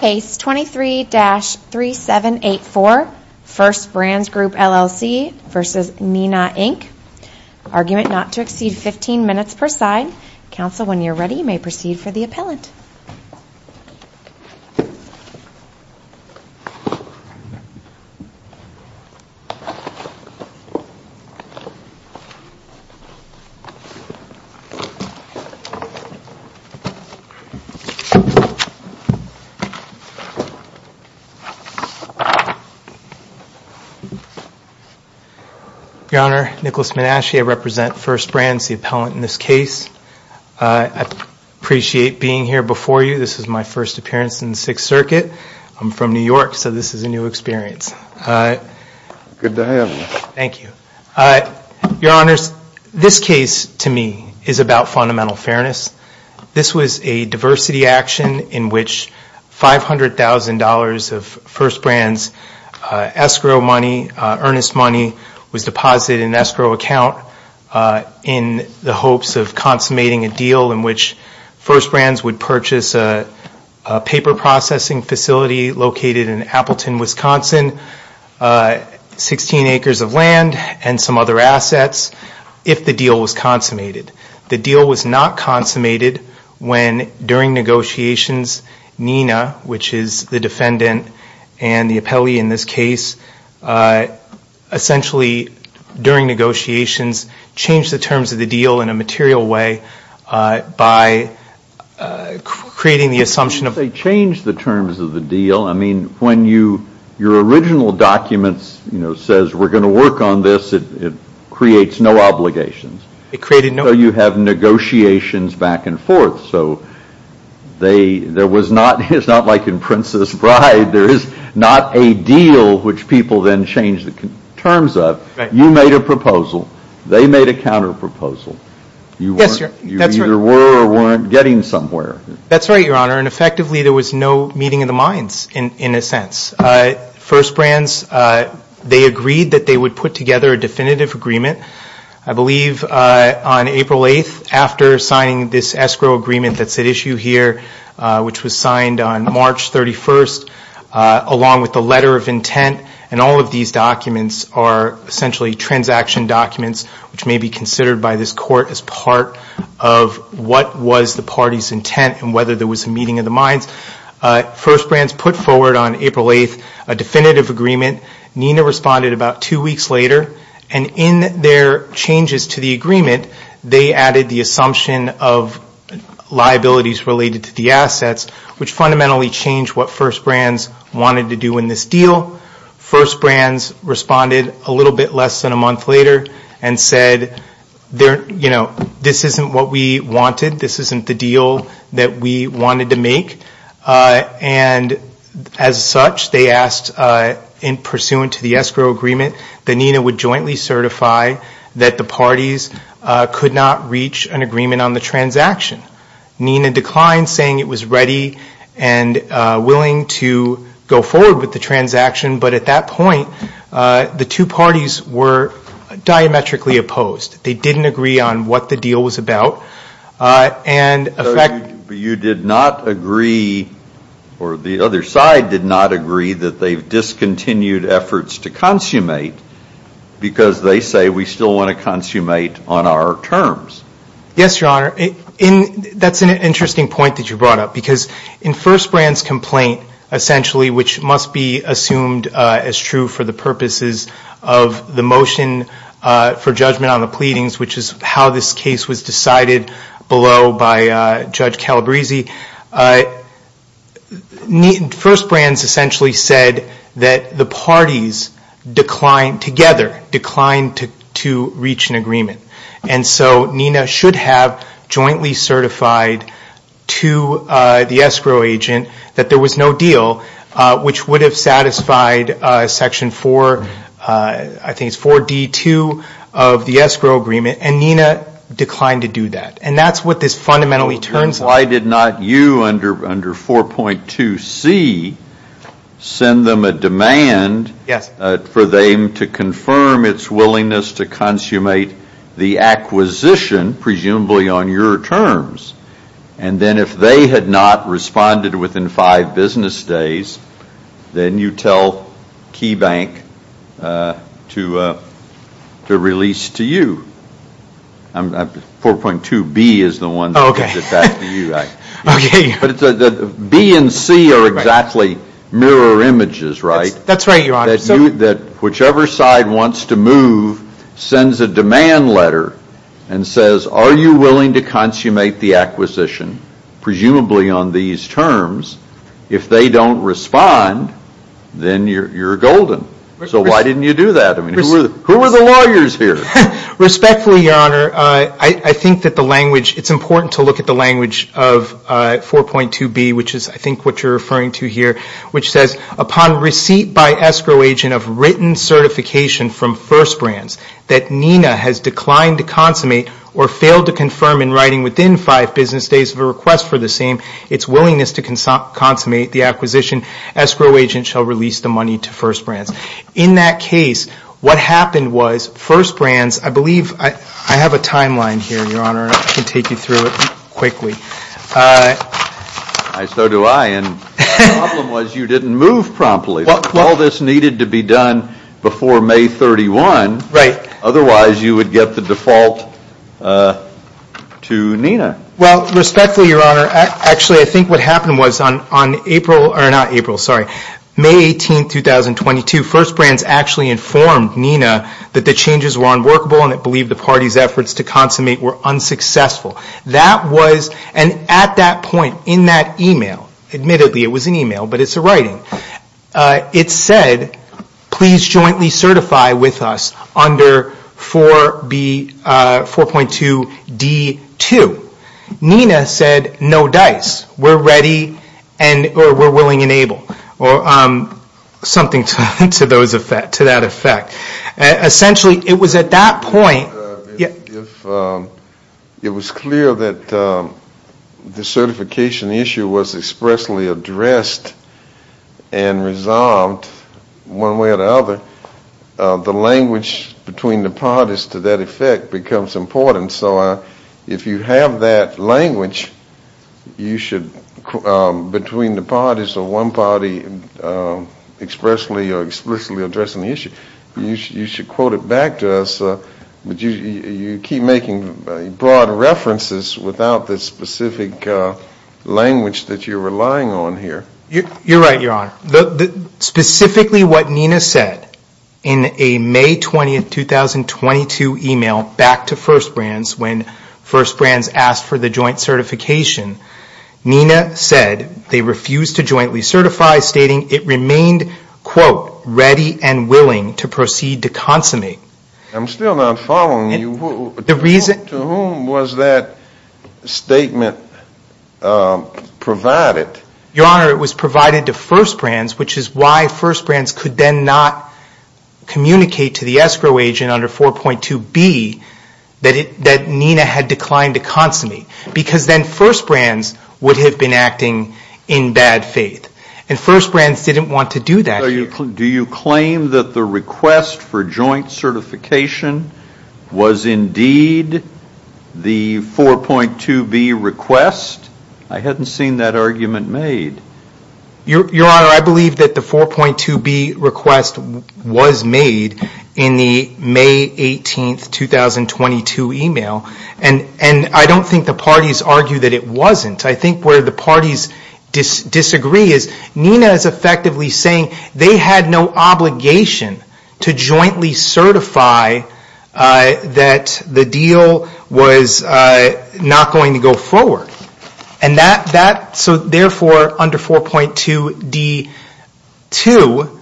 Case 23-3784 First Brands Group LLC v. Neenah Inc. Argument not to exceed 15 minutes per side. Counsel, when you're ready, you may proceed for the appellant. Your Honor, Nicholas Menasche. I represent First Brands, the appellant in this case. I appreciate being here before you. This is my first appearance in the Sixth Circuit. I'm from New York, so this is a new experience. Good to have you. Thank you. Your Honors, This case, to me, is about fundamental fairness. This was a diversity action in which $500,000 of First Brands escrow money, earnest money, was deposited in an escrow account in the hopes of consummating a deal in which First Brands would purchase a paper processing facility located in Appleton, Wisconsin, 16 acres of land and some other assets, if the deal was consummated. The deal was not consummated when, during negotiations, Neenah, which is the defendant and the appellee in this case, essentially, during negotiations, changed the terms of the deal in a material way by creating the assumption of They changed the terms of the deal. I mean, when your original document says, we're going to work on this, it creates no obligations. You have negotiations back and forth. It's not like in Princess Bride. There is not a deal which people then change the terms of. You made a proposal. They made a counterproposal. You either were or weren't getting somewhere. That's right, Your Honor, and effectively, there was no meeting of the minds, in a sense. First Brands, they agreed that they would put together a definitive agreement, I believe, on April 8th, after signing this escrow agreement that's at issue here, which was signed on March 31st, along with the letter of intent. All of these documents are essentially transaction documents, which may be considered by this Court as part of what was the party's intent and whether there was a meeting of the minds. First Brands put forward on April 8th a definitive agreement. Neenah responded about two weeks later, and in their changes to the agreement, they added the assumption of liabilities related to the assets, which fundamentally changed what First Brands wanted to do in this deal. First Brands responded a little bit less than a month later and said, this isn't what we wanted. This isn't the deal that we wanted to make. As such, they asked, pursuant to the escrow agreement, that Neenah would jointly certify that the parties could not reach an agreement on the transaction. Neenah declined saying it was ready and willing to go forward with the transaction, but at that point, the two parties were diametrically opposed. They didn't agree on what the deal was about. You did not agree, or the other side did not agree, that they've discontinued efforts to consummate because they say, we still want to consummate on our terms. Yes, Your Honor. That's an interesting point that you brought up because in First Brands' complaint, essentially, which must be assumed as true for the purposes of the motion for judgment on the pleadings, which is how this case was decided below by Judge Calabresi, First Brands essentially said that the parties declined together, declined to reach an agreement. So Neenah should have jointly certified to the escrow agent that there was no deal, which would have satisfied Section 4, I think it's 4D2 of the escrow agreement, and Neenah declined to do that. That's what this fundamentally turns out. Why did not you, under 4.2C, send them a demand for them to confirm its willingness to consummate the acquisition, presumably on your terms, and then if they had not responded within five business days, then you tell KeyBank to release to you. 4.2B is the one that gets back to you, but B and C are exactly mirror images, right, that whichever side wants to move sends a demand letter and says, are you willing to consummate the acquisition, presumably on these terms, if they don't respond, then you're golden. So why didn't you do that? Who are the lawyers here? Respectfully, Your Honor, I think that the language, it's important to look at the language of 4.2B, which is I think what you're referring to here, which says, upon receipt by escrow agent of written certification from First Brands that Neenah has declined to consummate or failed to confirm in writing within five business days of a request for the same, its willingness to consummate the acquisition, escrow agent shall release the money to First Brands. In that case, what happened was First Brands, I believe, I have a timeline here, Your Honor, I can take you through it quickly. I so do I, and the problem was you didn't move promptly. All this needed to be done before May 31, otherwise you would get the default to Neenah. Well, respectfully, Your Honor, actually I think what happened was on May 18, 2022, First Brands actually informed Neenah that the changes were unworkable and it believed the party's willingness to consummate were unsuccessful. That was, and at that point in that email, admittedly it was an email, but it's a writing, it said, please jointly certify with us under 4.2D2. Neenah said, no dice, we're ready and we're willing and able, or something to that effect. Essentially, it was at that point. It was clear that the certification issue was expressly addressed and resolved one way or the other. The language between the parties to that effect becomes important, so if you have that language, you should, between the parties or one party expressly or explicitly addressing the issue, you should quote it back to us, but you keep making broad references without the specific language that you're relying on here. You're right, Your Honor. Specifically what Neenah said in a May 20, 2022 email back to First Brands when First Brands asked for the joint certification, Neenah said they refused to jointly certify, stating it remained, quote, ready and willing to proceed to consummate. I'm still not following you. To whom was that statement provided? Your Honor, it was provided to First Brands, which is why First Brands could then not communicate to the escrow agent under 4.2B that Neenah had declined to consummate, because then First Brands would have to comply by faith, and First Brands didn't want to do that. Do you claim that the request for joint certification was indeed the 4.2B request? I hadn't seen that argument made. Your Honor, I believe that the 4.2B request was made in the May 18, 2022 email, and I don't think the parties argue that it wasn't. I think where the parties disagree is Neenah is effectively saying they had no obligation to jointly certify that the deal was not going to go forward. So therefore, under 4.2D2,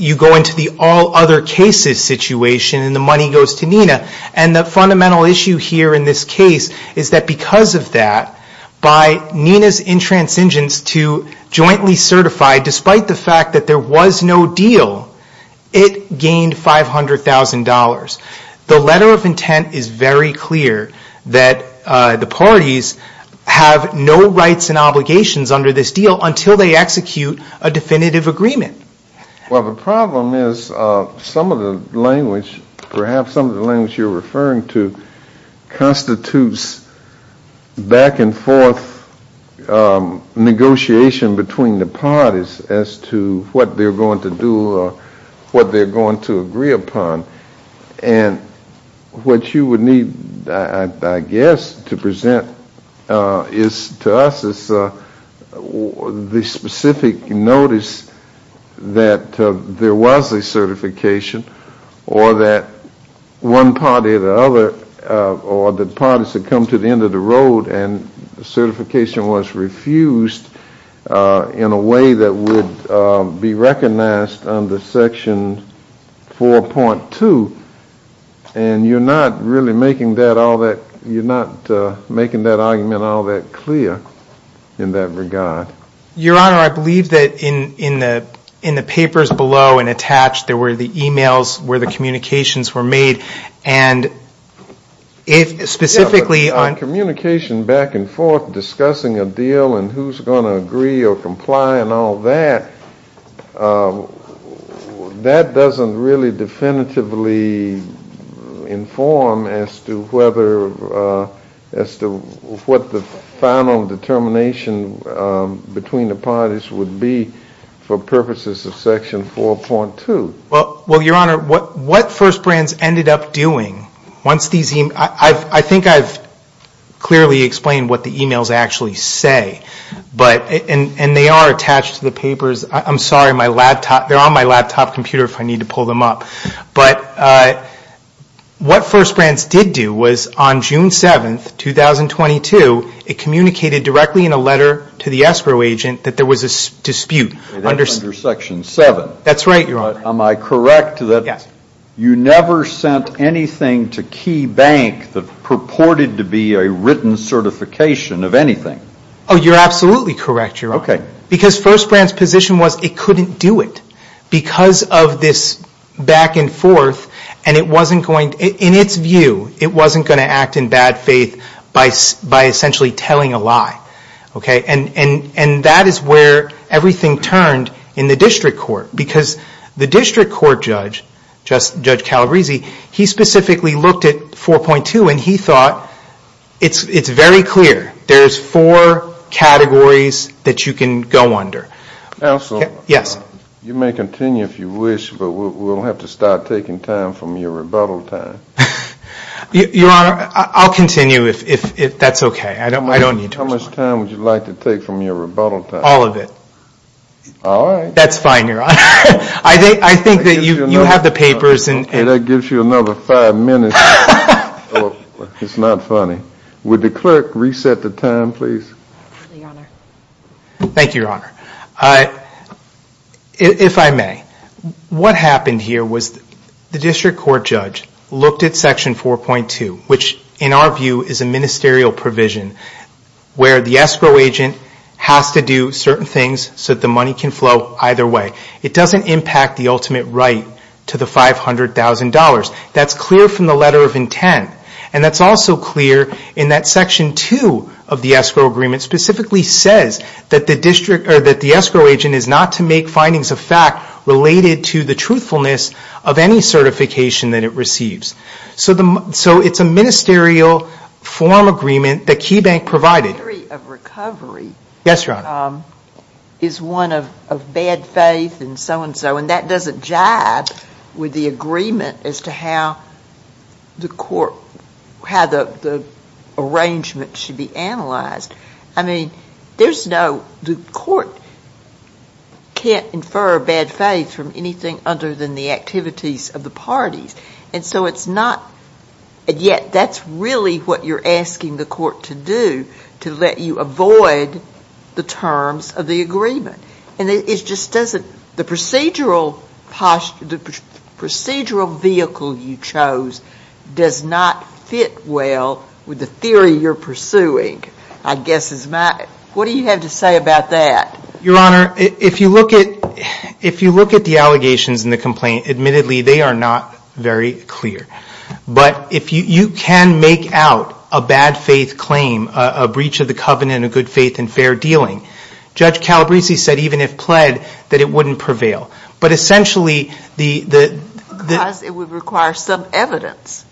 you go into the all other cases situation and the money goes to Neenah, and the fundamental issue here in this case is that because of that, by Neenah's intransigence to jointly certify, despite the fact that there was no deal, it gained $500,000. The letter of intent is very clear that the parties have no rights and obligations under this deal until they execute a definitive agreement. Well, the problem is some of the language, perhaps some of the language you're referring to constitutes back and forth negotiation between the parties as to what they're going to do or what they're going to agree upon, and what you would need, I guess, to present is to us the specific notice that there was a certification or that one party or the other or the parties had come to the end of the road and certification was refused in a way that would be recognized under Section 4.2, and you're not really making that all that, you're not making that argument all that clear in that regard. Your Honor, I believe that in the papers below and attached, there were the e-mails where the communications were made, and if specifically on... Yeah, but on communication back and forth, discussing a deal and who's going to agree or comply and all that, that doesn't really definitively inform as to whether or not the final determination between the parties would be for purposes of Section 4.2. Well, Your Honor, what First Brands ended up doing, I think I've clearly explained what the e-mails actually say, and they are attached to the papers. I'm sorry, they're on my laptop computer if I need to pull them up, but what First Brands did do was on June 7th, 2022, it communicated directly in a letter to the ESPRO agent that there was a dispute under... Under Section 7. That's right, Your Honor. Am I correct that you never sent anything to Key Bank that purported to be a written certification of anything? You're absolutely correct, Your Honor, because First Brands' position was it couldn't do it because of this back and forth, and it wasn't going... In its view, it wasn't going to act in bad faith by essentially telling a lie, and that is where everything turned in the district court, because the district court judge, Judge Calabresi, he specifically looked at 4.2, and he thought it's very clear. There's four categories that you can go under. Counselor? Yes? You may continue if you wish, but we'll have to start taking time from your rebuttal time. Your Honor, I'll continue if that's okay. I don't need to... How much time would you like to take from your rebuttal time? All of it. All right. That's fine, Your Honor. I think that you have the papers and... That gives you another five minutes. It's not funny. Would the clerk reset the time, Thank you, Your Honor. If I may, what happened here was the district court judge looked at Section 4.2, which in our view is a ministerial provision where the escrow agent has to do certain things so that the money can flow either way. It doesn't impact the ultimate right to the $500,000. That's clear from the letter of intent, and that's also clear in that Section 2 of the escrow agreement specifically says that the escrow agent is not to make findings of fact related to the truthfulness of any certification that it receives. It's a ministerial form agreement that KeyBank provided. The theory of recovery is one of bad faith and so-and-so, and that doesn't jibe with the agreement as to how the court, how the arrangement should be analyzed. I mean, there's no, the court can't infer bad faith from anything other than the activities of the parties, and so it's not, and yet that's really what you're asking the court to do, to let you avoid the terms of the agreement. And it just doesn't, the procedural, the procedural vehicle you chose does not fit well with the theory you're pursuing, I guess is my, what do you have to say about that? Your Honor, if you look at, if you look at the allegations in the complaint, admittedly they are not very clear. But if you, you can make out a bad faith claim, a breach of the covenant of good faith and fair dealing. Judge Calabresi said even if pled, that it wouldn't prevail. But essentially the, the... Because it would require some evidence.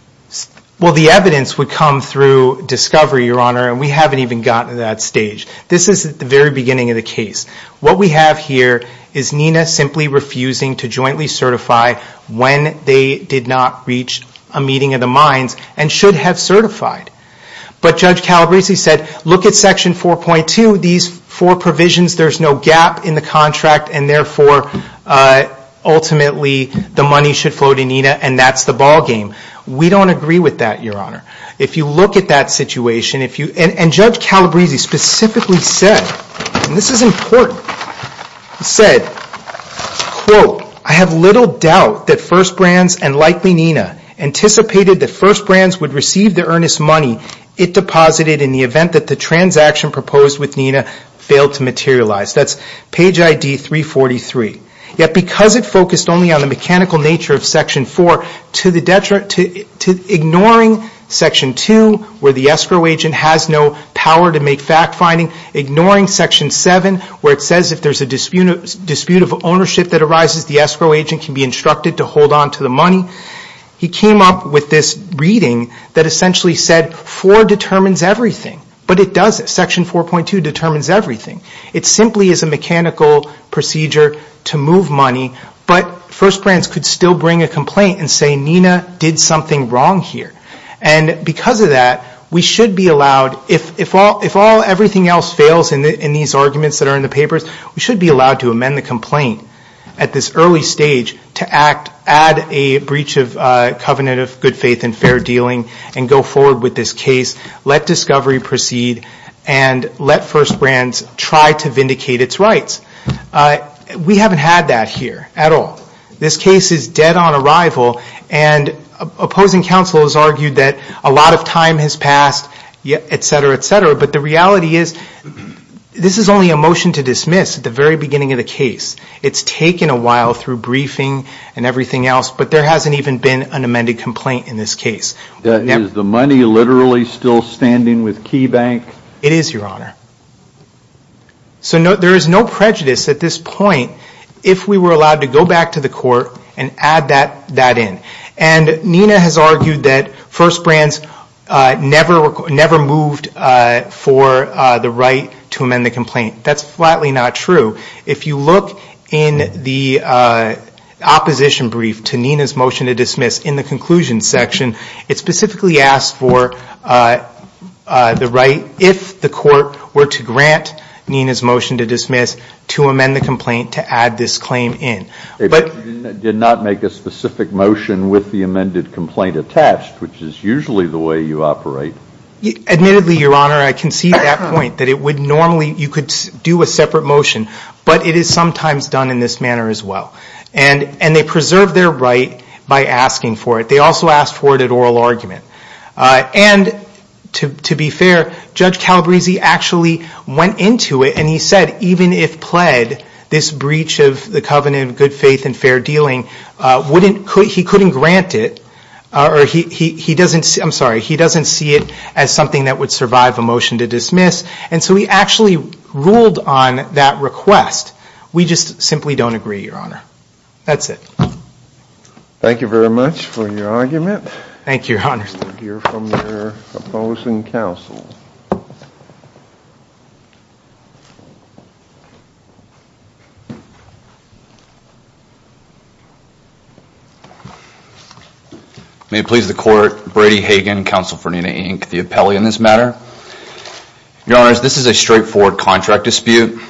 Well, the evidence would come through discovery, Your Honor, and we haven't even gotten to that stage. This is at the very beginning of the case. What we have here is Nina simply refusing to jointly certify when they did not reach a meeting of the minds and should have certified. But Judge Calabresi said, look at Section 4.2, these four provisions, there's no gap in the contract and therefore ultimately the money should flow to Nina and that's the ballgame. We don't agree with that, Your Honor. If you look at that situation, if you, and Judge Calabresi specifically said, and this is important, said, quote, I have little doubt that First Brands and likely Nina anticipated that First Brands would receive the earnest money it deposited in the event that the transaction proposed with Nina failed to materialize. That's page ID 343. Yet because it focused only on the mechanical nature of Section 4 to the detriment, to ignoring Section 2 where the escrow agent has no power to make fact finding, ignoring Section 7 where it says if there's a dispute of ownership that arises the escrow agent can be instructed to hold on to the money. He came up with this reading that essentially said 4 determines everything. But it doesn't. Section 4.2 determines everything. It simply is a mechanical procedure to move money, but First Brands could still bring a complaint and say Nina did something wrong here. And because of that, we should be allowed, if all everything else fails in these arguments that are in the papers, we should be allowed to amend the complaint at this early stage to act, add a breach of covenant of good faith and fair dealing and go forward with this case, let discovery proceed and let First Brands try to vindicate its rights. We haven't had that here at all. This case is dead on arrival and opposing counsel has argued that a lot of time has passed, et cetera, et cetera, but the reality is this is only a motion to dismiss at the very beginning of the case. It's taken a while through briefing and everything else, but there hasn't even been an amended complaint in this case. Is the money literally still standing with KeyBank? It is, Your Honor. So there is no prejudice at this point if we were allowed to go back to the court and add that in. And Nina has argued that First Brands never moved for the right to amend the complaint. That's flatly not true. If you look in the opposition brief to Nina's motion to dismiss in the conclusion section, it specifically asked for the right if the court were to grant Nina's motion to dismiss to amend the complaint to add this claim in. They did not make a specific motion with the amended complaint attached, which is usually the way you operate. Admittedly, Your Honor, I concede that point that it would normally, you could do a separate motion, but it is sometimes done in this manner as well. And they preserved their right by asking for it. They also asked for it at oral argument. And to be fair, Judge Calabresi actually went into it and he said even if pled, this breach of the covenant of good faith and fair dealing, he couldn't grant it or he doesn't see it as something that would survive a motion to dismiss. And so he actually ruled on that request. We just simply don't agree, Your Honor. That's it. Thank you very much for your argument. Thank you, Your Honor. We'll hear from the opposing counsel. May it please the court, Brady Hagan, counsel for Nina Inc., the appellee in this matter. Your Honors, this is a straightforward contract dispute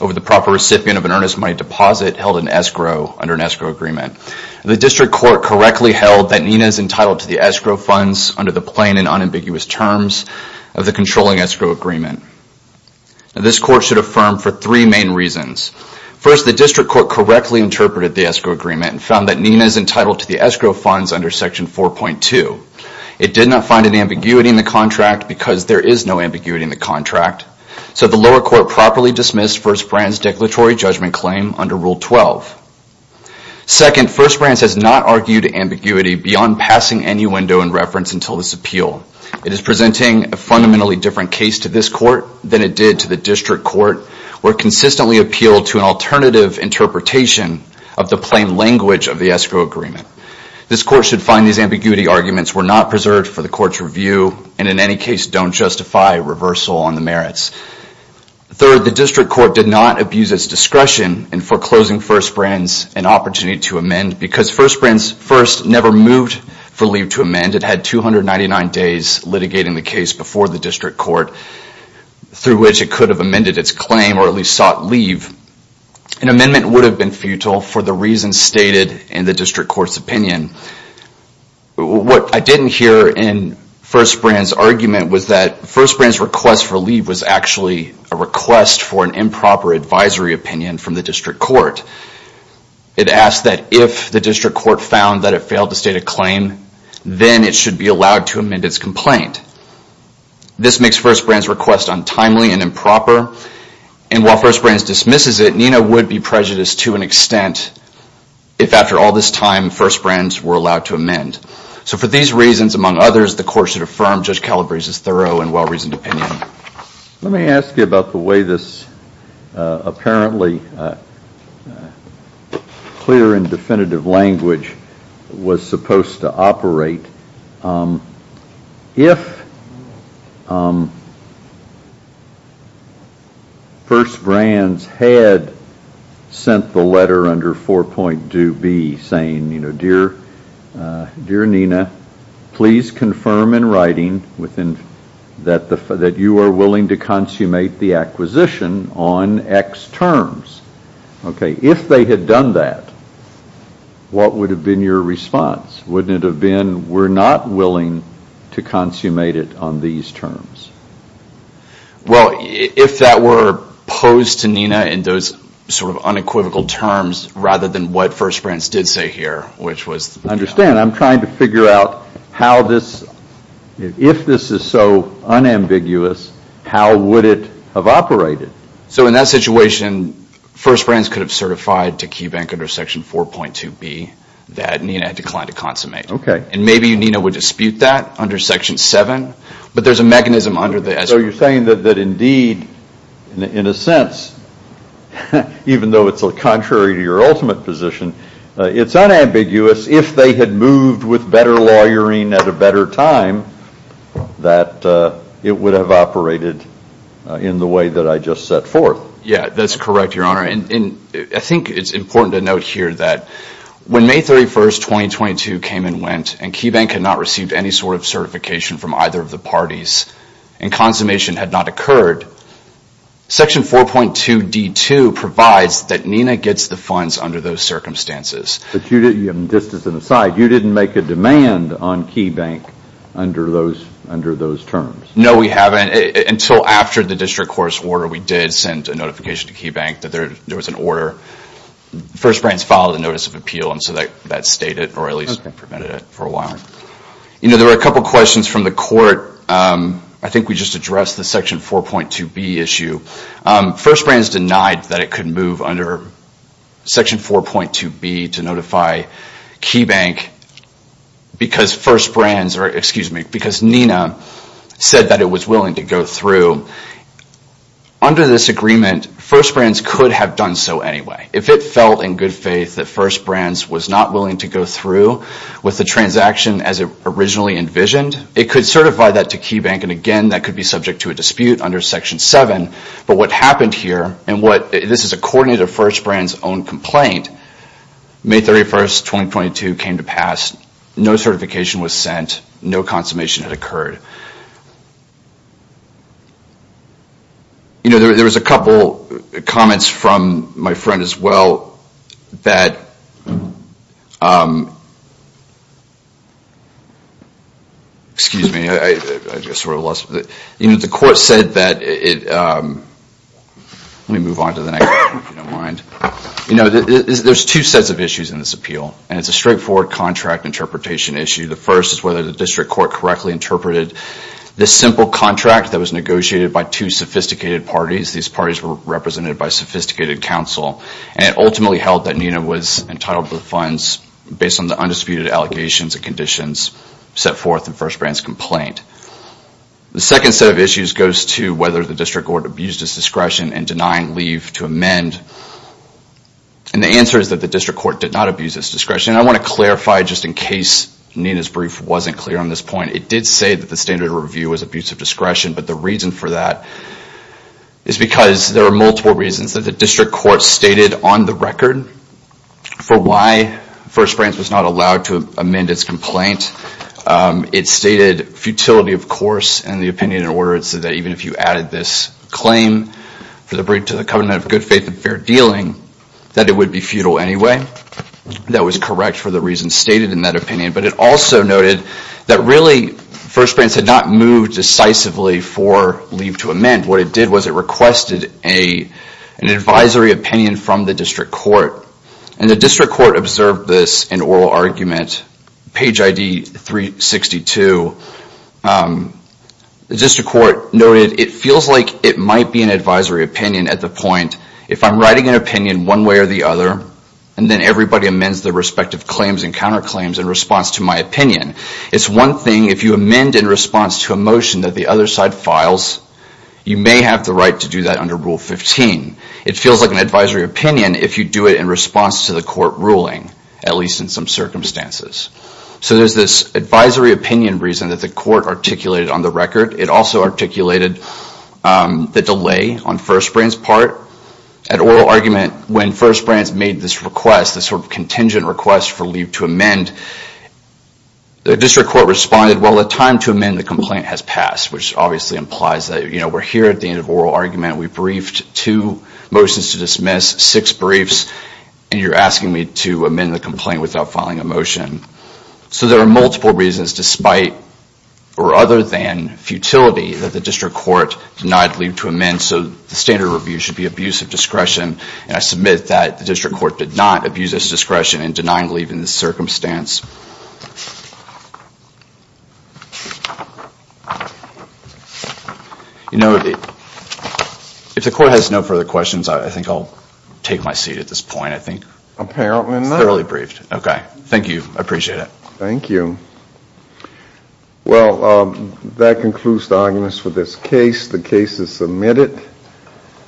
over the proper recipient of an earnest money deposit held in escrow under an escrow agreement. The district court correctly held that Nina is entitled to the escrow funds under the plain and unambiguous terms of the controlling escrow agreement. This court should affirm for three main reasons. First, the district court correctly interpreted the escrow agreement and found that Nina is entitled to the escrow funds under section 4.2. It did not find an ambiguity in the contract because there is no ambiguity in the contract. So the lower court properly dismissed First Brandt's declaratory judgment claim under Rule 12. Second, First Brandt has not argued ambiguity beyond passing any window in reference until this appeal. It is presenting a fundamentally different case to this court than it did to the district court where it consistently appealed to an alternative interpretation of the plain language of the escrow agreement. This court should find these ambiguity arguments were not preserved for the court's review and in any case don't justify reversal on the merits. Third, the district court did not abuse its discretion in foreclosing First Brandt's an opportunity to amend because First Brandt's first never moved for leave to amend. It had 299 days litigating the case before the district court through which it could have amended its claim or at least sought leave. An amendment would have been futile for the reasons stated in the district court's opinion. What I didn't hear in First Brandt's argument was that First Brandt's request for leave was actually a request for an improper advisory opinion from the district court. It asked that if the district court found that it failed to state a claim then it should be allowed to amend its complaint. This makes First Brandt's request untimely and improper and while First Brandt dismisses it NINA would be prejudiced to an extent if after all this time First Brandt's were allowed to amend. So for these reasons among others the court should affirm Judge Calabrese's thorough and well-reasoned opinion. Let me ask you about the way this apparently clear and definitive language was supposed to operate. If First Brandt's had sent the letter under 4.2B saying, you know, dear NINA please confirm in writing that you are willing to consummate the acquisition on X terms. If they had done that what would have been your response? Wouldn't it have been, we're not willing to consummate it on these terms? Well if that were posed to NINA in those sort of unequivocal terms rather than what First Brandt's did say here which was. Understand I'm trying to figure out how this, if this is so unambiguous how would it have operated? So in that situation First Brandt's could have certified to KeyBank under section 4.2B that NINA had declined to consummate. And maybe NINA would dispute that under section 7 but there's a mechanism under there. So you're saying that indeed in a sense even though it's contrary to your ultimate position it's unambiguous if they had moved with better lawyering at a better time that it would have operated in the way that I just set forth. Yeah that's correct your honor and I think it's important to note here that when May 31st 2022 came and went and KeyBank had not received any sort of certification from either of the parties and consummation had not occurred, section 4.2D2 provides that NINA gets the funds under those circumstances. But you didn't, just as an aside, you didn't make a demand on KeyBank under those terms? No we haven't until after the district court's order we did send a notification to KeyBank that there was an order. First Brandt's filed a notice of appeal and so that stayed it or at least prevented it for a while. You know there were a couple questions from the court, I think we just addressed the section 4.2B issue. First Brandt's denied that it could move under section 4.2B to notify KeyBank because Nina said that it was willing to go through. Under this agreement, First Brandt's could have done so anyway. If it felt in good faith that First Brandt's was not willing to go through with the transaction as it originally envisioned, it could certify that to KeyBank and again that could be subject to a dispute under section 7. But what happened here, and this is according to First Brandt's own complaint, May 31st 2022 came to pass, no certification was sent, no consummation had occurred. You know there was a couple comments from my friend as well that, excuse me, I just the court said that, let me move on to the next one if you don't mind, there's two sets of issues in this appeal and it's a straightforward contract interpretation issue. The first is whether the district court correctly interpreted this simple contract that was negotiated by two sophisticated parties. These parties were represented by sophisticated counsel and it ultimately held that Nina was entitled to the funds based on the undisputed allegations and conditions set forth in First Brandt's complaint. The second set of issues goes to whether the district court abused its discretion in denying leave to amend and the answer is that the district court did not abuse its discretion. I want to clarify just in case Nina's brief wasn't clear on this point, it did say that the standard review was abuse of discretion, but the reason for that is because there are multiple reasons that the district court stated on the record for why First Brandt's was not in the opinion in order so that even if you added this claim to the covenant of good faith and fair dealing that it would be futile anyway. That was correct for the reasons stated in that opinion, but it also noted that really First Brandt's had not moved decisively for leave to amend. What it did was it requested an advisory opinion from the district court and the district court observed this in oral argument, page ID 362, the district court noted it feels like it might be an advisory opinion at the point if I'm writing an opinion one way or the other and then everybody amends their respective claims and counterclaims in response to my It's one thing if you amend in response to a motion that the other side files, you may have the right to do that under Rule 15. It feels like an advisory opinion if you do it in response to the court ruling, at least in some circumstances. So there's this advisory opinion reason that the court articulated on the record. It also articulated the delay on First Brandt's part. At oral argument, when First Brandt's made this request, this sort of contingent request for leave to amend, the district court responded, well the time to amend the complaint has passed, which obviously implies that we're here at the end of oral argument, we've briefed two motions to dismiss, six briefs, and you're asking me to amend the complaint without filing a motion. So there are multiple reasons despite or other than futility that the district court denied leave to amend, so the standard review should be abuse of discretion and I submit that the district court did not abuse its discretion in denying leave in this circumstance. You know, if the court has no further questions, I think I'll take my seat at this point, I think. Apparently not. Thoroughly briefed. Okay. Thank you. I appreciate it. Thank you. Well, that concludes the arguments for this case. The case is submitted.